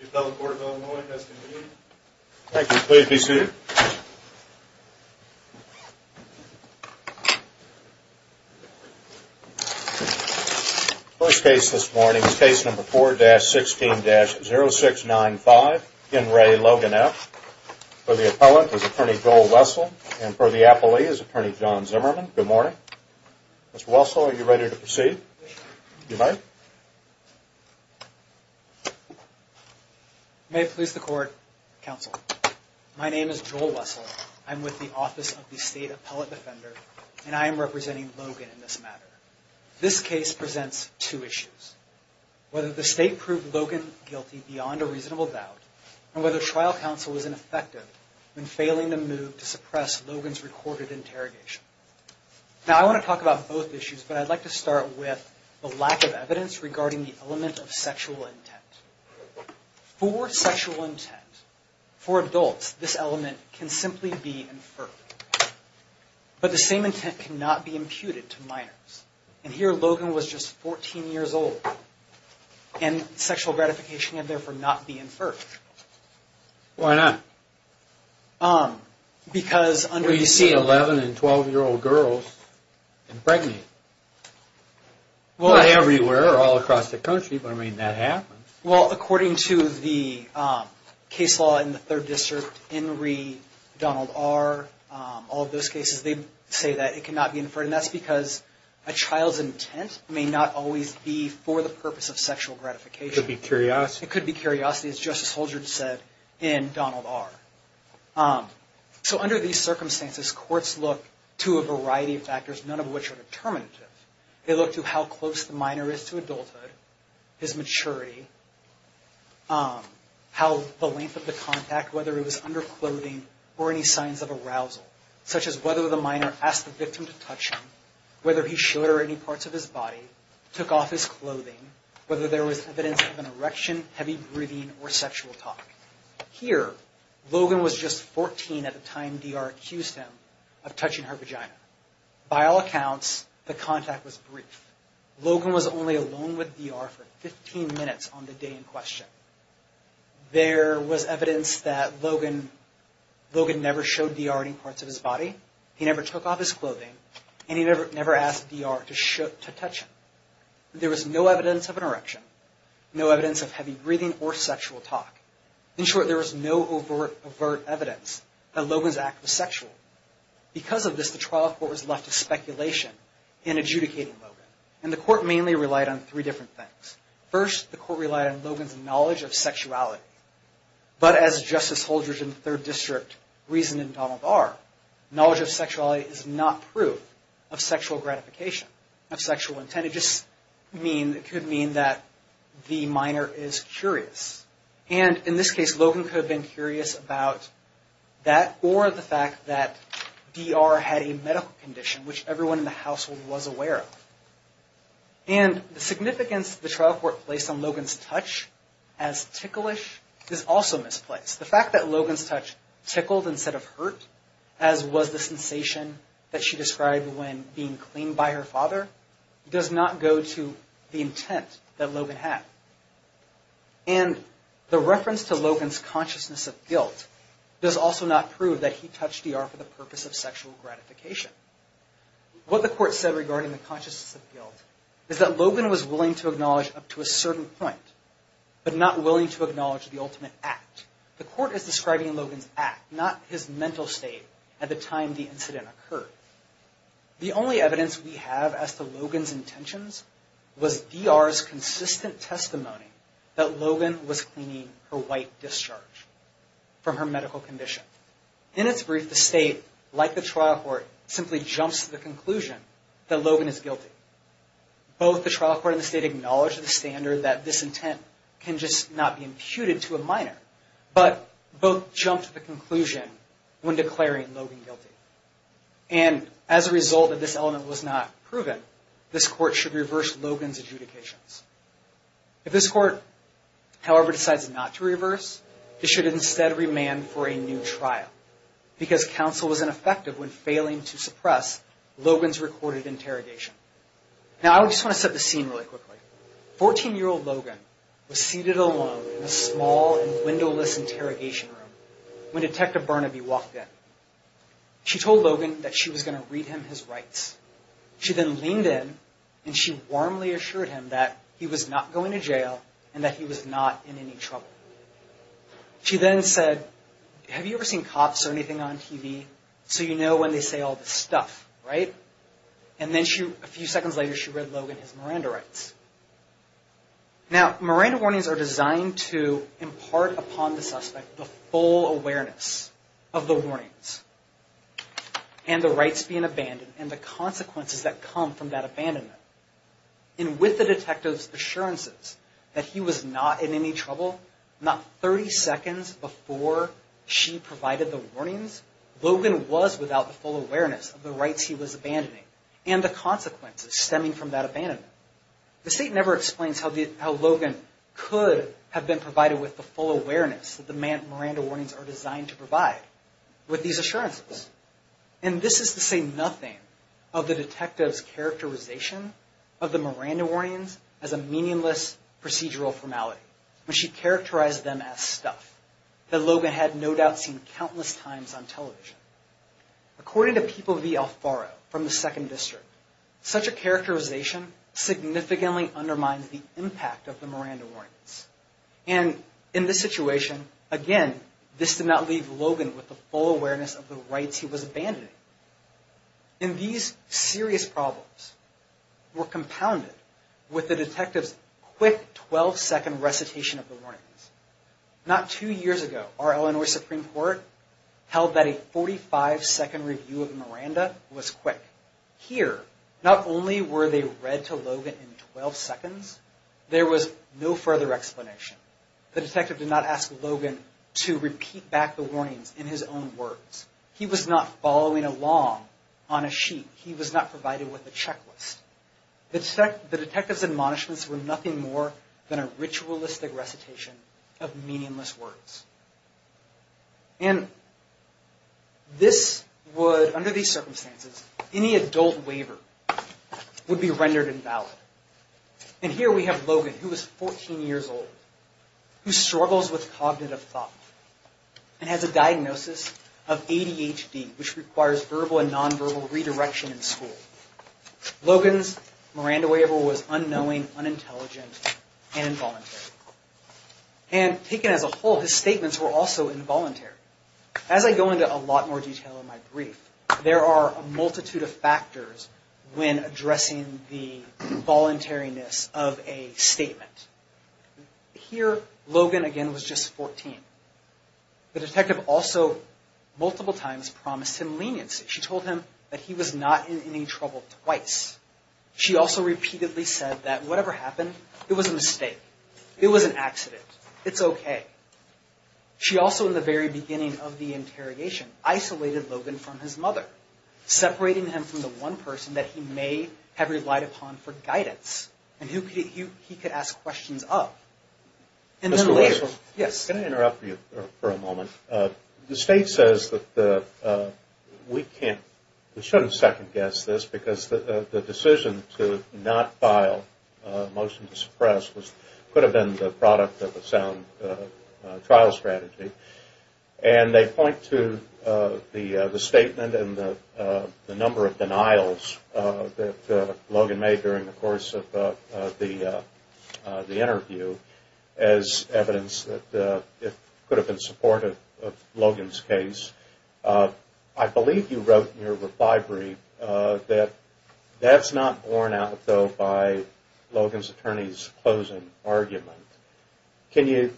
The appellate court of Illinois has convened. Thank you. Please be seated. First case this morning is case number 4-16-0695. In re Logan F. For the appellant is attorney Joel Wessel. And for the appellee is attorney John Zimmerman. Mr. Wessel, are you ready to proceed? You're fired. May it please the court, counsel. My name is Joel Wessel. I'm with the Office of the State Appellate Defender. And I am representing Logan in this matter. This case presents two issues. Whether the state proved Logan guilty beyond a reasonable doubt, and whether trial counsel was ineffective in failing to move to suppress Logan's recorded interrogation. Now I want to talk about both issues, but I'd like to start with the lack of evidence regarding the element of sexual intent. For sexual intent, for adults, this element can simply be inferred. But the same intent cannot be imputed to minors. And here Logan was just 14 years old. And sexual gratification can therefore not be inferred. Why not? Because... Well, you see 11- and 12-year-old girls impregnated. Not everywhere, all across the country, but I mean, that happens. Well, according to the case law in the 3rd District, Henry, Donald R., all of those cases, they say that it cannot be inferred. And that's because a child's intent may not always be for the purpose of sexual gratification. It could be curiosity. It could be curiosity, as Justice Holdridge said, in Donald R. So under these circumstances, courts look to a variety of factors, none of which are determinative. They look to how close the minor is to adulthood, his maturity, how the length of the contact, whether it was under clothing or any signs of arousal, such as whether the minor asked the victim to touch him, whether he showed her any parts of his body, took off his clothing, whether there was evidence of an erection, heavy breathing, or sexual talk. Here, Logan was just 14 at the time D.R. accused him of touching her vagina. By all accounts, the contact was brief. Logan was only alone with D.R. for 15 minutes on the day in question. There was evidence that Logan never showed D.R. any parts of his body, he never took off his clothing, and he never asked D.R. to touch him. There was no evidence of an erection, no evidence of heavy breathing or sexual talk. In short, there was no overt evidence that Logan's act was sexual. Because of this, the trial court was left to speculation in adjudicating Logan. And the court mainly relied on three different things. First, the court relied on Logan's knowledge of sexuality. But as Justice Holdridge and the Third District reasoned in Donald R., knowledge of sexuality is not proof of sexual gratification, of sexual intent. It just could mean that the minor is curious. And in this case, Logan could have been curious about that or the fact that D.R. had a medical condition, which everyone in the household was aware of. And the significance the trial court placed on Logan's touch as ticklish is also misplaced. The fact that Logan's touch tickled instead of hurt, as was the sensation that she described when being cleaned by her father, does not go to the intent that Logan had. And the reference to Logan's consciousness of guilt does also not prove that he touched D.R. for the purpose of sexual gratification. What the court said regarding the consciousness of guilt is that Logan was willing to acknowledge up to a certain point, but not willing to acknowledge the ultimate act. The court is describing Logan's act, not his mental state at the time the incident occurred. The only evidence we have as to Logan's intentions was D.R.'s consistent testimony that Logan was cleaning her white discharge from her medical condition. In its brief, the state, like the trial court, simply jumps to the conclusion that Logan is guilty. Both the trial court and the state acknowledge the standard that this intent can just not be imputed to a minor, but both jump to the conclusion when declaring Logan guilty. And as a result that this element was not proven, this court should reverse Logan's adjudications. If this court, however, decides not to reverse, it should instead remand for a new trial because counsel was ineffective when failing to suppress Logan's recorded interrogation. Now I just want to set the scene really quickly. Fourteen-year-old Logan was seated alone in a small and windowless interrogation room when Detective Burnaby walked in. She told Logan that she was going to read him his rights. She then leaned in and she warmly assured him that he was not going to jail and that he was not in any trouble. She then said, have you ever seen cops or anything on TV? So you know when they say all this stuff, right? And then a few seconds later she read Logan his Miranda rights. Now, Miranda warnings are designed to impart upon the suspect the full awareness of the warnings and the rights being abandoned and the consequences that come from that abandonment. And with the detective's assurances that he was not in any trouble, not 30 seconds before she provided the warnings, Logan was without the full awareness of the rights he was abandoning and the consequences stemming from that abandonment. The state never explains how Logan could have been provided with the full awareness that the Miranda warnings are designed to provide with these assurances. And this is to say nothing of the detective's characterization of the Miranda warnings as a meaningless procedural formality when she characterized them as stuff that Logan had no doubt seen countless times on television. According to People v. Alfaro from the 2nd District, such a characterization significantly undermines the impact of the Miranda warnings. And in this situation, again, this did not leave Logan with the full awareness of the rights he was abandoning. And these serious problems were compounded with the detective's quick 12-second recitation of the warnings. Not two years ago, our Illinois Supreme Court held that a 45-second review of Miranda was quick. Here, not only were they read to Logan in 12 seconds, there was no further explanation. The detective did not ask Logan to repeat back the warnings in his own words. He was not following along on a sheet. He was not provided with a checklist. The detective's admonishments were nothing more than a ritualistic recitation of meaningless words. And under these circumstances, any adult waiver would be rendered invalid. And here we have Logan, who was 14 years old, who struggles with cognitive thought and has a diagnosis of ADHD, which requires verbal and nonverbal redirection in school. Logan's Miranda waiver was unknowing, unintelligent, and involuntary. And taken as a whole, his statements were also involuntary. As I go into a lot more detail in my brief, there are a multitude of factors when addressing the voluntariness of a statement. Here, Logan, again, was just 14. The detective also, multiple times, promised him leniency. She told him that he was not in any trouble twice. She also repeatedly said that whatever happened, it was a mistake. It was an accident. It's okay. She also, in the very beginning of the interrogation, isolated Logan from his mother, separating him from the one person that he may have relied upon for guidance and who he could ask questions of. And then later... Mr. Rogers? Yes. Can I interrupt you for a moment? The state says that the... We can't... We shouldn't second-guess this because the decision to not file a motion to suppress could have been the product of a sound trial strategy. And they point to the statement and the number of denials that Logan made during the course of the interview as evidence that it could have been supportive of Logan's case. I believe you wrote in your reply brief that that's not borne out, though, by Logan's attorney's closing argument. Can you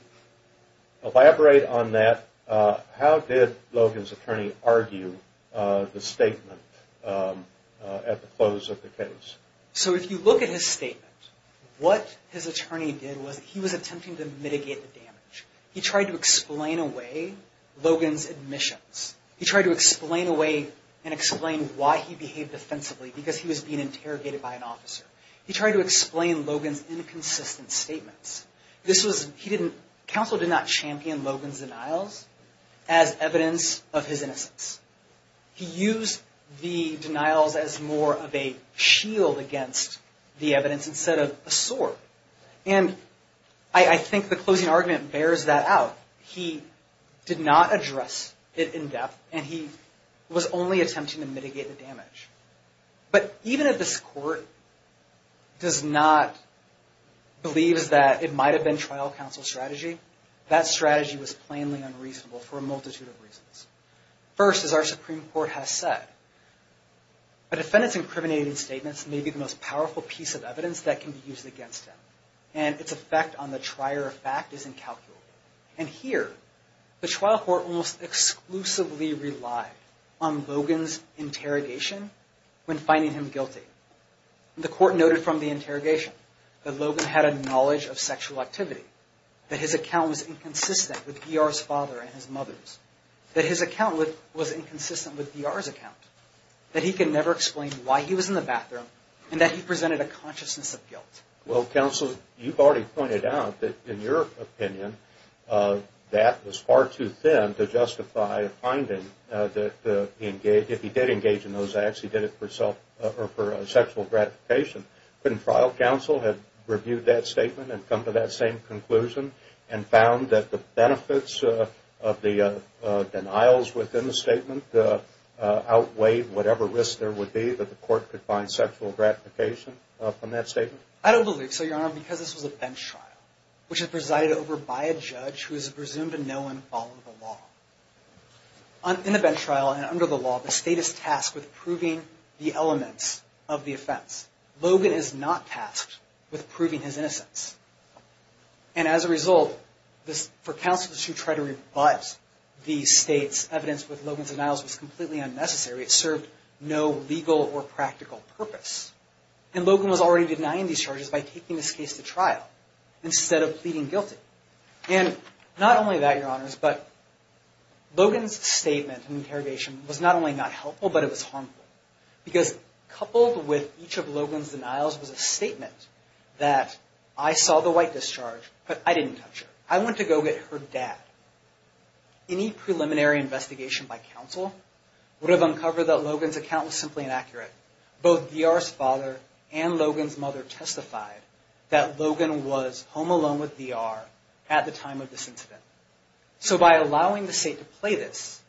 elaborate on that? How did Logan's attorney argue the statement at the close of the case? So, if you look at his statement, what his attorney did was he was attempting to mitigate the damage. He tried to explain away Logan's admissions. He tried to explain away and explain why he behaved offensively, because he was being interrogated by an officer. He tried to explain Logan's inconsistent statements. This was... He didn't... Counsel did not champion Logan's denials as evidence of his innocence. He used the denials as more of a shield against the evidence instead of a sword. And I think the closing argument bears that out. He did not address it in depth, and he was only attempting to mitigate the damage. But even if this Court does not believe that it might have been trial counsel strategy, that strategy was plainly unreasonable for a multitude of reasons. First, as our Supreme Court has said, a defendant's incriminating statements may be the most powerful piece of evidence that can be used against him, and its effect on the trier of fact is incalculable. And here, the trial court almost exclusively relied on Logan's interrogation when finding him guilty. The court noted from the interrogation that Logan had a knowledge of sexual activity, that his account was inconsistent with D.R.'s father and his mother's, that his account was inconsistent with D.R.'s account, that he can never explain why he was in the bathroom, and that he presented a consciousness of guilt. Well, Counsel, you've already pointed out that, in your opinion, that was far too thin to justify a finding that if he did engage in those acts, he did it for sexual gratification. Couldn't trial counsel have reviewed that statement and come to that same conclusion and found that the benefits of the denials within the statement outweighed whatever risk there would be that the court could find sexual gratification from that statement? I don't believe so, Your Honor, because this was a bench trial, which was presided over by a judge who is presumed to know and follow the law. In a bench trial, and under the law, the state is tasked with proving the elements of the offense. Logan is not tasked with proving his innocence. And as a result, for counsel to try to revise the state's evidence with Logan's denials was completely unnecessary. It served no legal or practical purpose. And Logan was already denying these charges by taking this case to trial instead of pleading guilty. And not only that, Your Honors, but Logan's statement and interrogation was not only not helpful, but it was harmful. Because coupled with each of Logan's denials was a statement that I saw the white discharge, but I didn't touch her. I went to go get her dad. Any preliminary investigation by counsel would have uncovered that Logan's account was simply inaccurate. Both VR's father and Logan's mother testified that Logan was home alone with VR at the time of this incident. So by allowing the state to play this,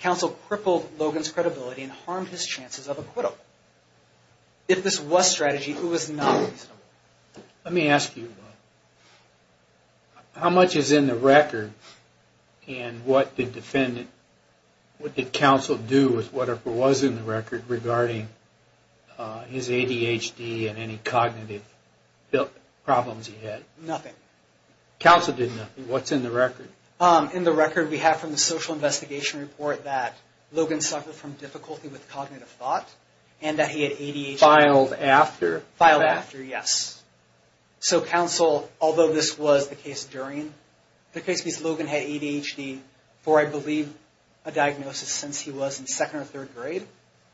counsel crippled Logan's credibility and harmed his chances of acquittal. If this was strategy, it was not reasonable. Let me ask you, how much is in the record? And what did counsel do with whatever was in the record regarding his ADHD and any cognitive problems he had? Nothing. Counsel did nothing. What's in the record? In the record we have from the social investigation report that Logan suffered from difficulty with cognitive thought and that he had ADHD. Filed after? Filed after, yes. So counsel, although this was the case during the case, Logan had ADHD for, I believe, a diagnosis since he was in second or third grade.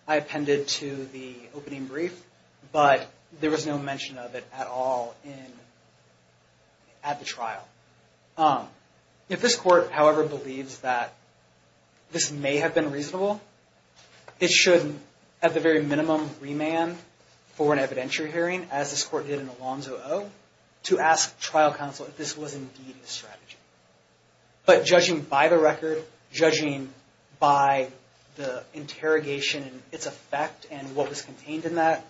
I appended to the opening brief, but there was no mention of it at all at the trial. If this court, however, believes that this may have been reasonable, it should, at the very minimum, remand for an evidentiary hearing, as this court did in Alonzo O., to ask trial counsel if this was indeed a strategy. But judging by the record, judging by the interrogation and its effect and what was contained in that,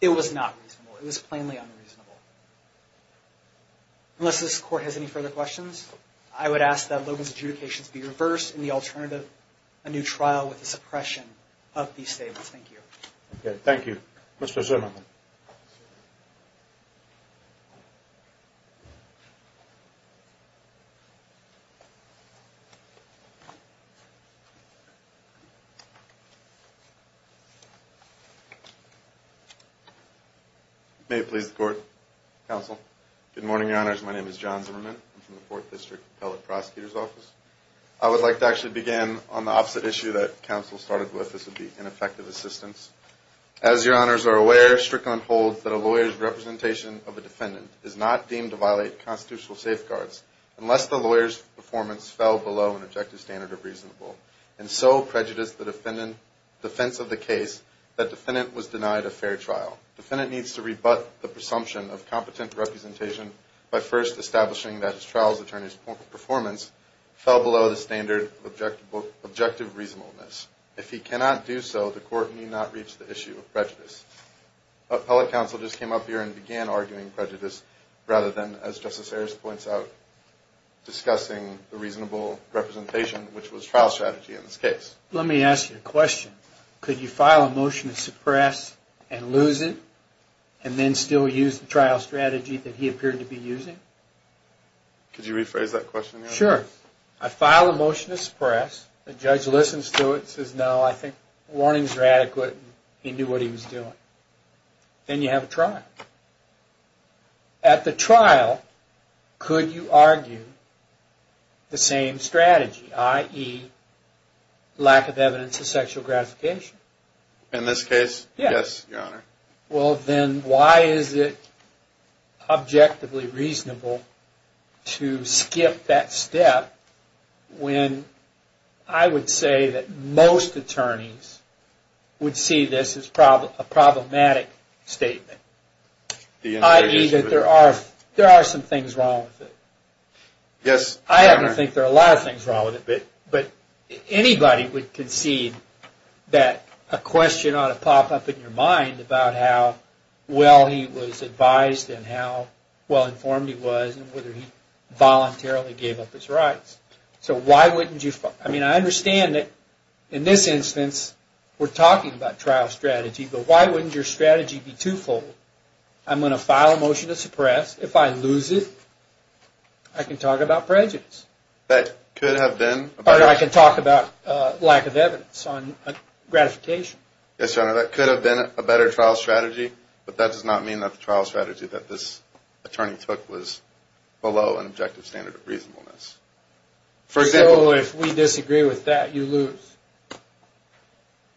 it was not reasonable. It was plainly unreasonable. Unless this court has any further questions, I would ask that Logan's adjudications be reversed in the alternative, a new trial with the suppression of these statements. Thank you. Thank you. Mr. Zimmerman. May it please the court, counsel. Good morning, Your Honors. My name is John Zimmerman. I'm from the Fourth District Appellate Prosecutor's Office. I would like to actually begin on the opposite issue that counsel started with. This would be ineffective assistance. As Your Honors are aware, Strickland holds that a lawyer's representation of a defendant is not deemed to violate constitutional safeguards, unless the lawyer's performance fell below an objective standard of reasonable. And so prejudiced the defense of the case, that defendant was denied a fair trial. Defendant needs to rebut the presumption of competent representation by first establishing that his trial's attorney's performance fell below the standard of objective reasonableness. If he cannot do so, the court need not reach the issue of prejudice. Appellate counsel just came up here and began arguing prejudice rather than, as Justice Harris points out, discussing the reasonable representation, which was trial strategy in this case. Let me ask you a question. Could you file a motion to suppress and lose it, and then still use the trial strategy that he appeared to be using? Could you rephrase that question? Sure. I file a motion to suppress. The judge listens to it, says, no, I think warnings are adequate, and he knew what he was doing. Then you have a trial. At the trial, could you argue the same strategy, i.e., lack of evidence of sexual gratification? In this case, yes, Your Honor. Then why is it objectively reasonable to skip that step when I would say that most attorneys would see this as a problematic statement, i.e., that there are some things wrong with it? Yes, Your Honor. I happen to think there are a lot of things wrong with it, but anybody would concede that a question ought to pop up in your mind about how well he was advised and how well-informed he was and whether he voluntarily gave up his rights. I understand that in this instance we're talking about trial strategy, but why wouldn't your strategy be twofold? I'm going to file a motion to suppress. If I lose it, I can talk about prejudice. I can talk about lack of evidence on gratification. Yes, Your Honor. That could have been a better trial strategy, but that does not mean that the trial strategy that this attorney took was below an objective standard of reasonableness. So if we disagree with that, you lose?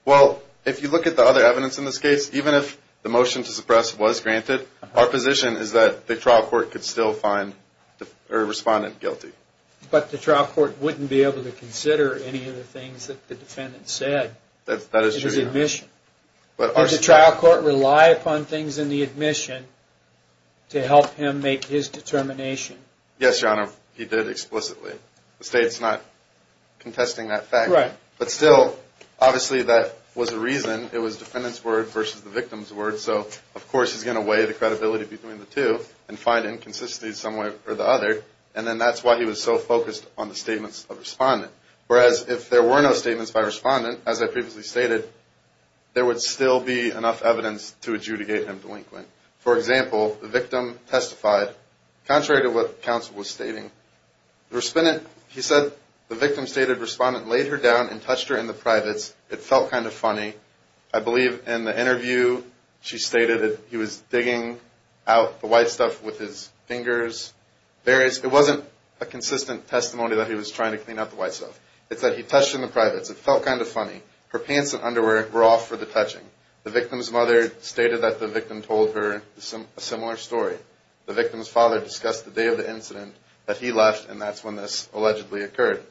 Well, if you look at the other evidence in this case, even if the motion to suppress was granted, our position is that the trial court could still find the respondent guilty. But the trial court wouldn't be able to consider any of the things that the defendant said in his admission. That is true, Your Honor. Did the trial court rely upon things in the admission to help him make his determination? Yes, Your Honor, he did explicitly. The State's not contesting that fact. Right. But still, obviously that was a reason. It was the defendant's word versus the victim's word. So, of course, he's going to weigh the credibility between the two and find inconsistencies some way or the other. And then that's why he was so focused on the statements of the respondent. Whereas if there were no statements by the respondent, as I previously stated, there would still be enough evidence to adjudicate him delinquent. For example, the victim testified contrary to what counsel was stating. He said the victim stated the respondent laid her down and touched her in the privates. It felt kind of funny. I believe in the interview she stated that he was digging out the white stuff with his fingers. It wasn't a consistent testimony that he was trying to clean up the white stuff. It said he touched her in the privates. It felt kind of funny. Her pants and underwear were off for the touching. The victim's mother stated that the victim told her a similar story. The victim's father discussed the day of the incident that he left, and that's when this allegedly occurred.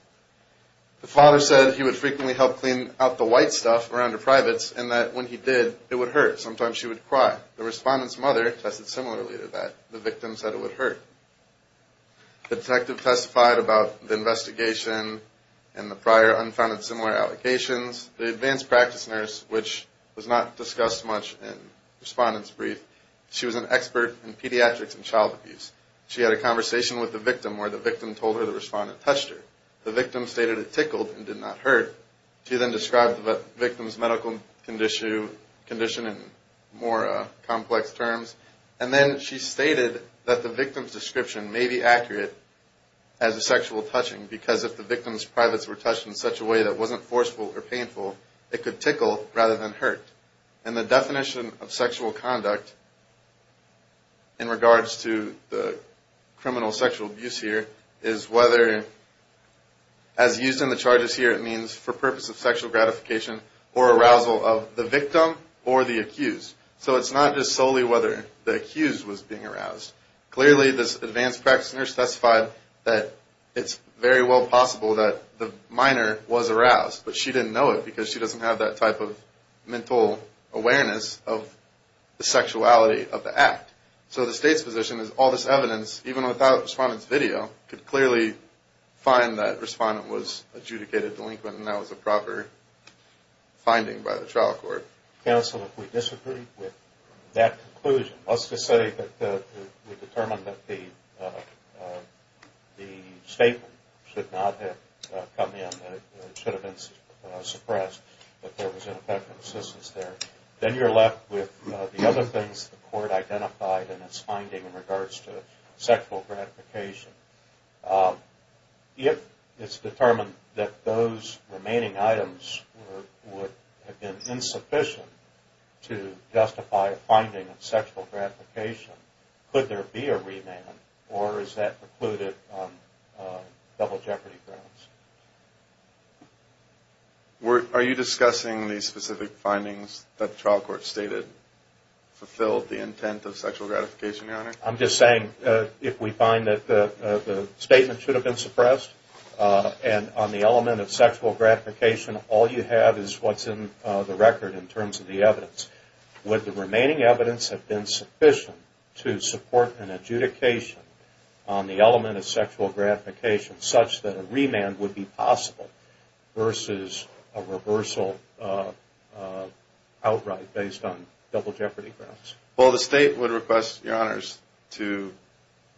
The father said he would frequently help clean out the white stuff around her privates, and that when he did, it would hurt. Sometimes she would cry. The respondent's mother tested similarly to that. The victim said it would hurt. The detective testified about the investigation and the prior unfounded similar allegations. The advanced practice nurse, which was not discussed much in the respondent's brief, she was an expert in pediatrics and child abuse. She had a conversation with the victim where the victim told her the respondent touched her. The victim stated it tickled and did not hurt. She then described the victim's medical condition in more complex terms, and then she stated that the victim's description may be accurate as a sexual touching because if the victim's privates were touched in such a way that wasn't forceful or painful, it could tickle rather than hurt. And the definition of sexual conduct in regards to the criminal sexual abuse here is whether, as used in the charges here, it means for purpose of sexual gratification or arousal of the victim or the accused. So it's not just solely whether the accused was being aroused. Clearly this advanced practice nurse testified that it's very well possible that the minor was aroused, but she didn't know it because she doesn't have that type of mental awareness of the sexuality of the act. So the state's position is all this evidence, even without the respondent's video, could clearly find that the respondent was adjudicated delinquent and that was a proper finding by the trial court. Counsel, if we disagree with that conclusion, let's just say that we determined that the statement should not have come in, that it should have been suppressed, that there was ineffective assistance there. Then you're left with the other things the court identified in its finding in regards to sexual gratification. If it's determined that those remaining items would have been insufficient to justify a finding of sexual gratification, could there be a remand or is that precluded on double jeopardy grounds? Are you discussing the specific findings that the trial court stated fulfilled the intent of sexual gratification, Your Honor? I'm just saying if we find that the statement should have been suppressed and on the element of sexual gratification all you have is what's in the record in terms of the evidence. Would the remaining evidence have been sufficient to support an adjudication on the element of sexual gratification such that a remand would be possible versus a reversal outright based on double jeopardy grounds? Well, the state would request, Your Honors, to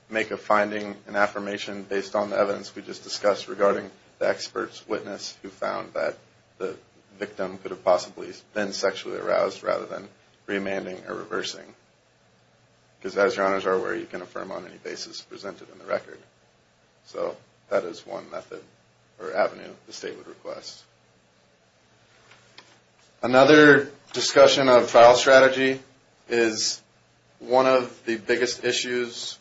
make a finding, an affirmation, based on the evidence we just discussed regarding the expert's witness who found that the victim could have possibly been sexually aroused rather than remanding or reversing. Because, as Your Honors are aware, you can affirm on any basis presented in the record. So that is one method or avenue the state would request. Another discussion of trial strategy is one of the biggest issues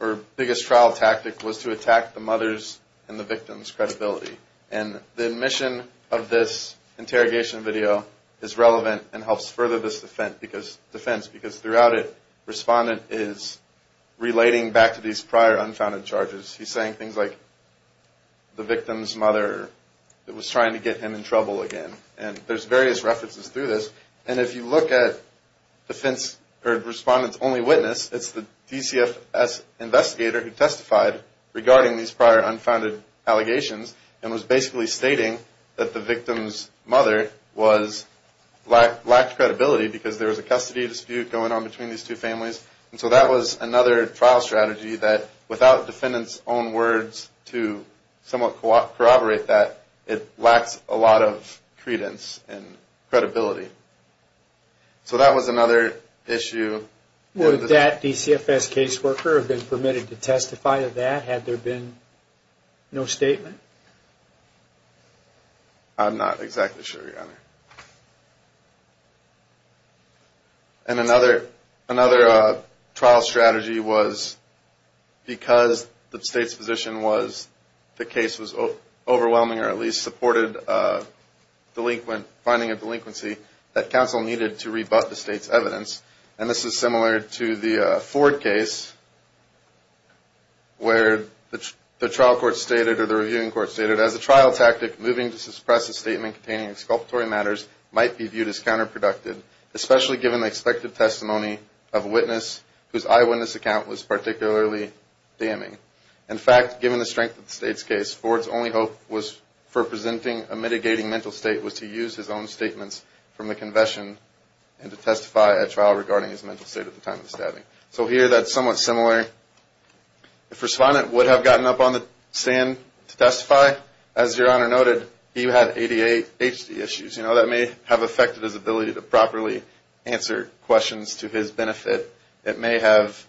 or biggest trial tactic was to attack the mother's and the victim's credibility. And the mission of this interrogation video is relevant and helps further this defense because throughout it, Respondent is relating back to these prior unfounded charges. He's saying things like the victim's mother was trying to get him in trouble again. And there's various references through this. And if you look at Respondent's only witness, it's the DCFS investigator who testified regarding these prior unfounded allegations and was basically stating that the victim's mother lacked credibility because there was a custody dispute going on between these two families. And so that was another trial strategy that without defendants' own words to somewhat corroborate that, it lacks a lot of credence and credibility. So that was another issue. Would that DCFS caseworker have been permitted to testify to that had there been no statement? I'm not exactly sure, Your Honor. And another trial strategy was because the state's position was the case was overwhelming or at least supported finding a delinquency, that counsel needed to rebut the state's evidence. And this is similar to the Ford case where the trial court stated or the reviewing court stated as a trial tactic, moving to suppress a statement containing exculpatory matters might be viewed as counterproductive, especially given the expected testimony of a witness whose eyewitness account was particularly damning. In fact, given the strength of the state's case, Ford's only hope was for presenting a mitigating mental state was to use his own statements from the confession and to testify at trial regarding his mental state at the time of the stabbing. So here that's somewhat similar. If respondent would have gotten up on the stand to testify, as Your Honor noted, he had ADHD issues. You know, that may have affected his ability to properly answer questions to his benefit. It may have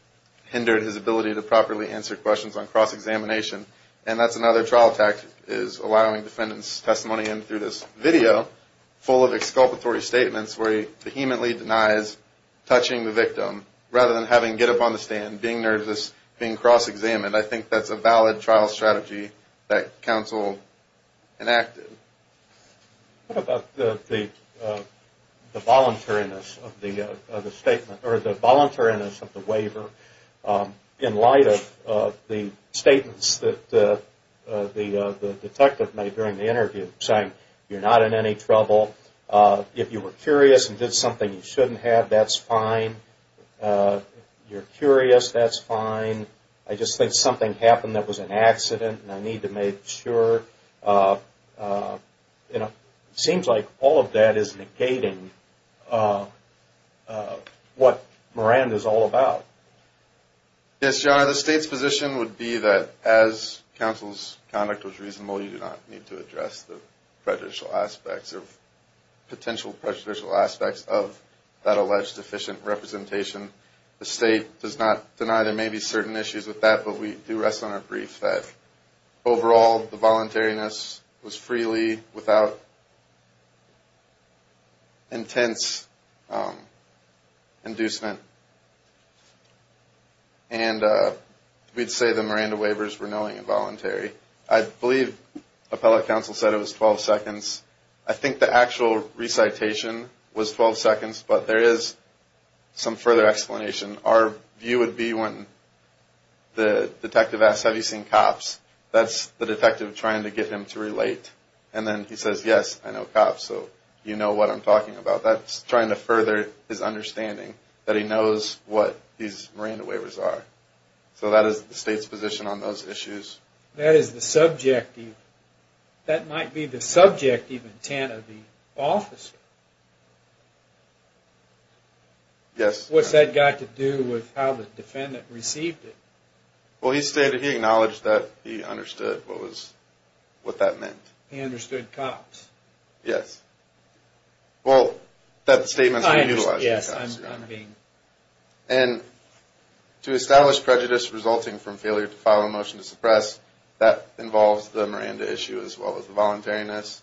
hindered his ability to properly answer questions on cross-examination. And that's another trial tactic is allowing defendants' testimony in through this video, full of exculpatory statements where he vehemently denies touching the victim rather than having him get up on the stand, being nervous, being cross-examined. I think that's a valid trial strategy that counsel enacted. What about the voluntariness of the statement, or the voluntariness of the waiver, in light of the statements that the detective made during the interview, saying you're not in any trouble. If you were curious and did something you shouldn't have, that's fine. If you're curious, that's fine. I just think something happened that was an accident, and I need to make sure. You know, it seems like all of that is negating what Miranda's all about. Yes, Your Honor. The state's position would be that as counsel's conduct was reasonable, you do not need to address the prejudicial aspects or potential prejudicial aspects of that alleged deficient representation. The state does not deny there may be certain issues with that, but we do rest on our briefs that, overall, the voluntariness was freely, without intense inducement, and we'd say the Miranda waivers were knowing and voluntary. I believe appellate counsel said it was 12 seconds. I think the actual recitation was 12 seconds, but there is some further explanation. Our view would be when the detective asks, have you seen cops, that's the detective trying to get him to relate. And then he says, yes, I know cops, so you know what I'm talking about. That's trying to further his understanding that he knows what these Miranda waivers are. So that is the state's position on those issues. That is the subjective. That might be the subjective intent of the officer. Yes. What's that got to do with how the defendant received it? Well, he acknowledged that he understood what that meant. He understood cops. Yes. Well, that statement is being utilized. Yes, I'm being. And to establish prejudice resulting from failure to file a motion to suppress, that involves the Miranda issue as well as the voluntariness.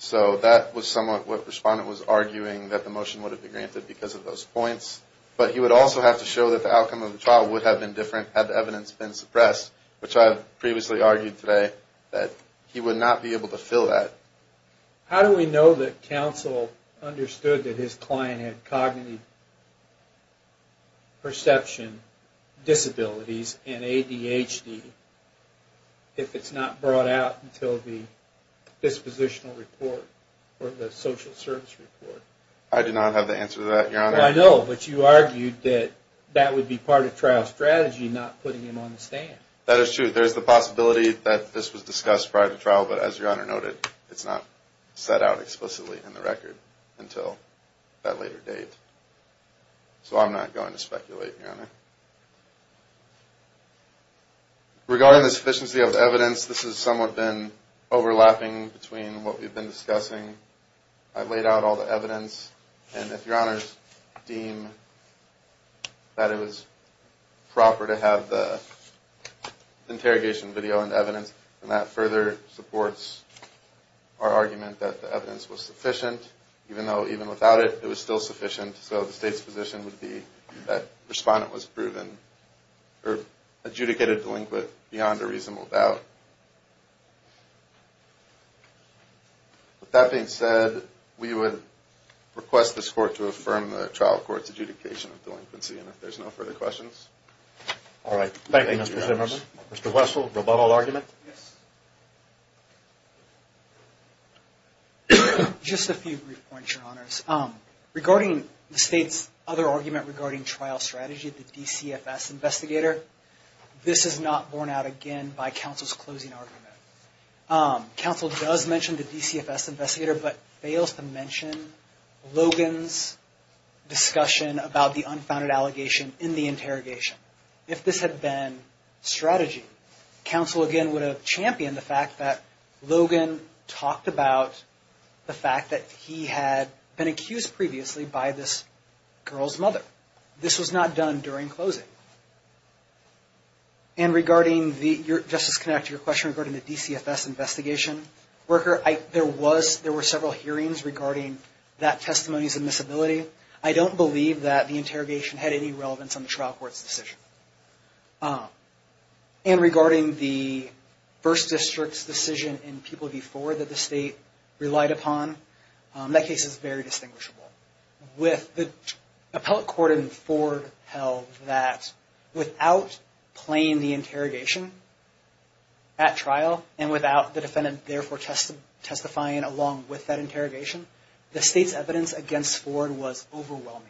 So that was somewhat what the respondent was arguing, that the motion would have been granted because of those points. But he would also have to show that the outcome of the trial would have been different had the evidence been suppressed, which I previously argued today, that he would not be able to fill that. How do we know that counsel understood that his client had cognitive perception disabilities and ADHD if it's not brought out until the dispositional report or the social service report? I do not have the answer to that, Your Honor. I know, but you argued that that would be part of trial strategy, not putting him on the stand. That is true. There is the possibility that this was discussed prior to trial, but as Your Honor noted, it's not set out explicitly in the record until that later date. So I'm not going to speculate, Your Honor. Regarding the sufficiency of the evidence, this has somewhat been overlapping between what we've been discussing. I've laid out all the evidence, and if Your Honor's deem that it was proper to have the interrogation video and evidence, and that further supports our argument that the evidence was sufficient, even though even without it, it was still sufficient. So the State's position would be that the respondent was proven or adjudicated delinquent beyond a reasonable doubt. With that being said, we would request this Court to affirm the trial court's adjudication of delinquency, and if there's no further questions. All right. Thank you, Mr. Zimmerman. Mr. Wessel, rebuttal argument? Just a few brief points, Your Honors. Regarding the State's other argument regarding trial strategy, the DCFS investigator, this is not borne out again by counsel's closing argument. Counsel does mention the DCFS investigator, but fails to mention Logan's discussion about the unfounded allegation in the interrogation. If this had been strategy, counsel, again, would have championed the fact that Logan talked about the fact that he had been accused previously by this girl's mother. This was not done during closing. And regarding the, Justice Connacht, your question regarding the DCFS investigation worker, there were several hearings regarding that testimony's admissibility. I don't believe that the interrogation had any relevance on the trial court's decision. And regarding the First District's decision in People v. Ford that the State relied upon, that case is very distinguishable. With the appellate court in Ford held that without playing the interrogation at trial, and without the defendant therefore testifying along with that interrogation, the State's evidence against Ford was overwhelming.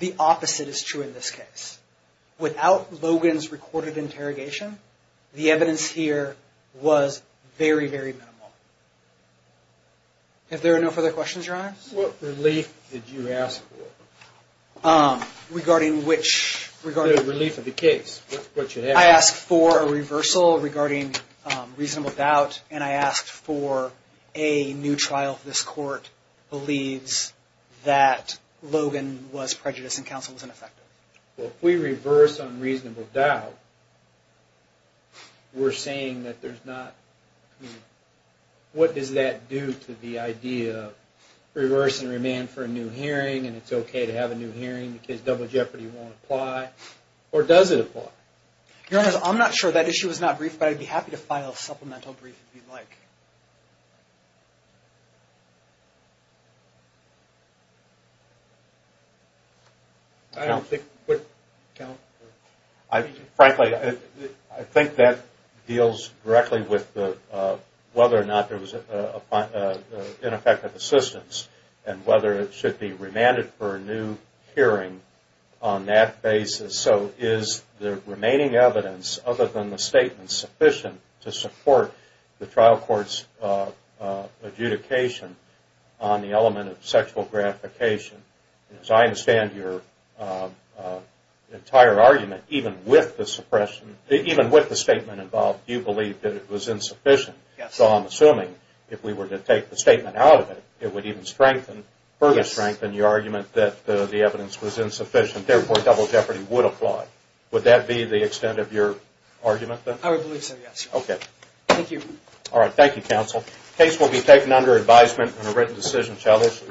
The opposite is true in this case. Without Logan's recorded interrogation, the evidence here was very, very minimal. If there are no further questions, Your Honor? What relief did you ask for? Regarding which? Relief of the case. I asked for a reversal regarding reasonable doubt, and I asked for a new trial if this court believes that Logan was prejudiced and counsel was ineffective. Well, if we reverse unreasonable doubt, we're saying that there's not, what does that do to the idea of reverse and remand for a new hearing, and it's okay to have a new hearing because double jeopardy won't apply? Or does it apply? Your Honor, I'm not sure that issue is not brief, but I'd be happy to file a supplemental brief if you'd like. Frankly, I think that deals directly with whether or not there was ineffective assistance, and whether it should be remanded for a new hearing on that basis. So is the remaining evidence, other than the statement, sufficient to support the trial court's adjudication on the element of sexual gratification? As I understand your entire argument, even with the statement involved, you believe that it was insufficient. So I'm assuming if we were to take the statement out of it, it would even further strengthen your argument that the evidence was insufficient. Therefore, double jeopardy would apply. Would that be the extent of your argument, then? I would believe so, yes. Okay. Thank you. All right. Thank you, counsel. The case will be taken under advisement and a written decision shall issue.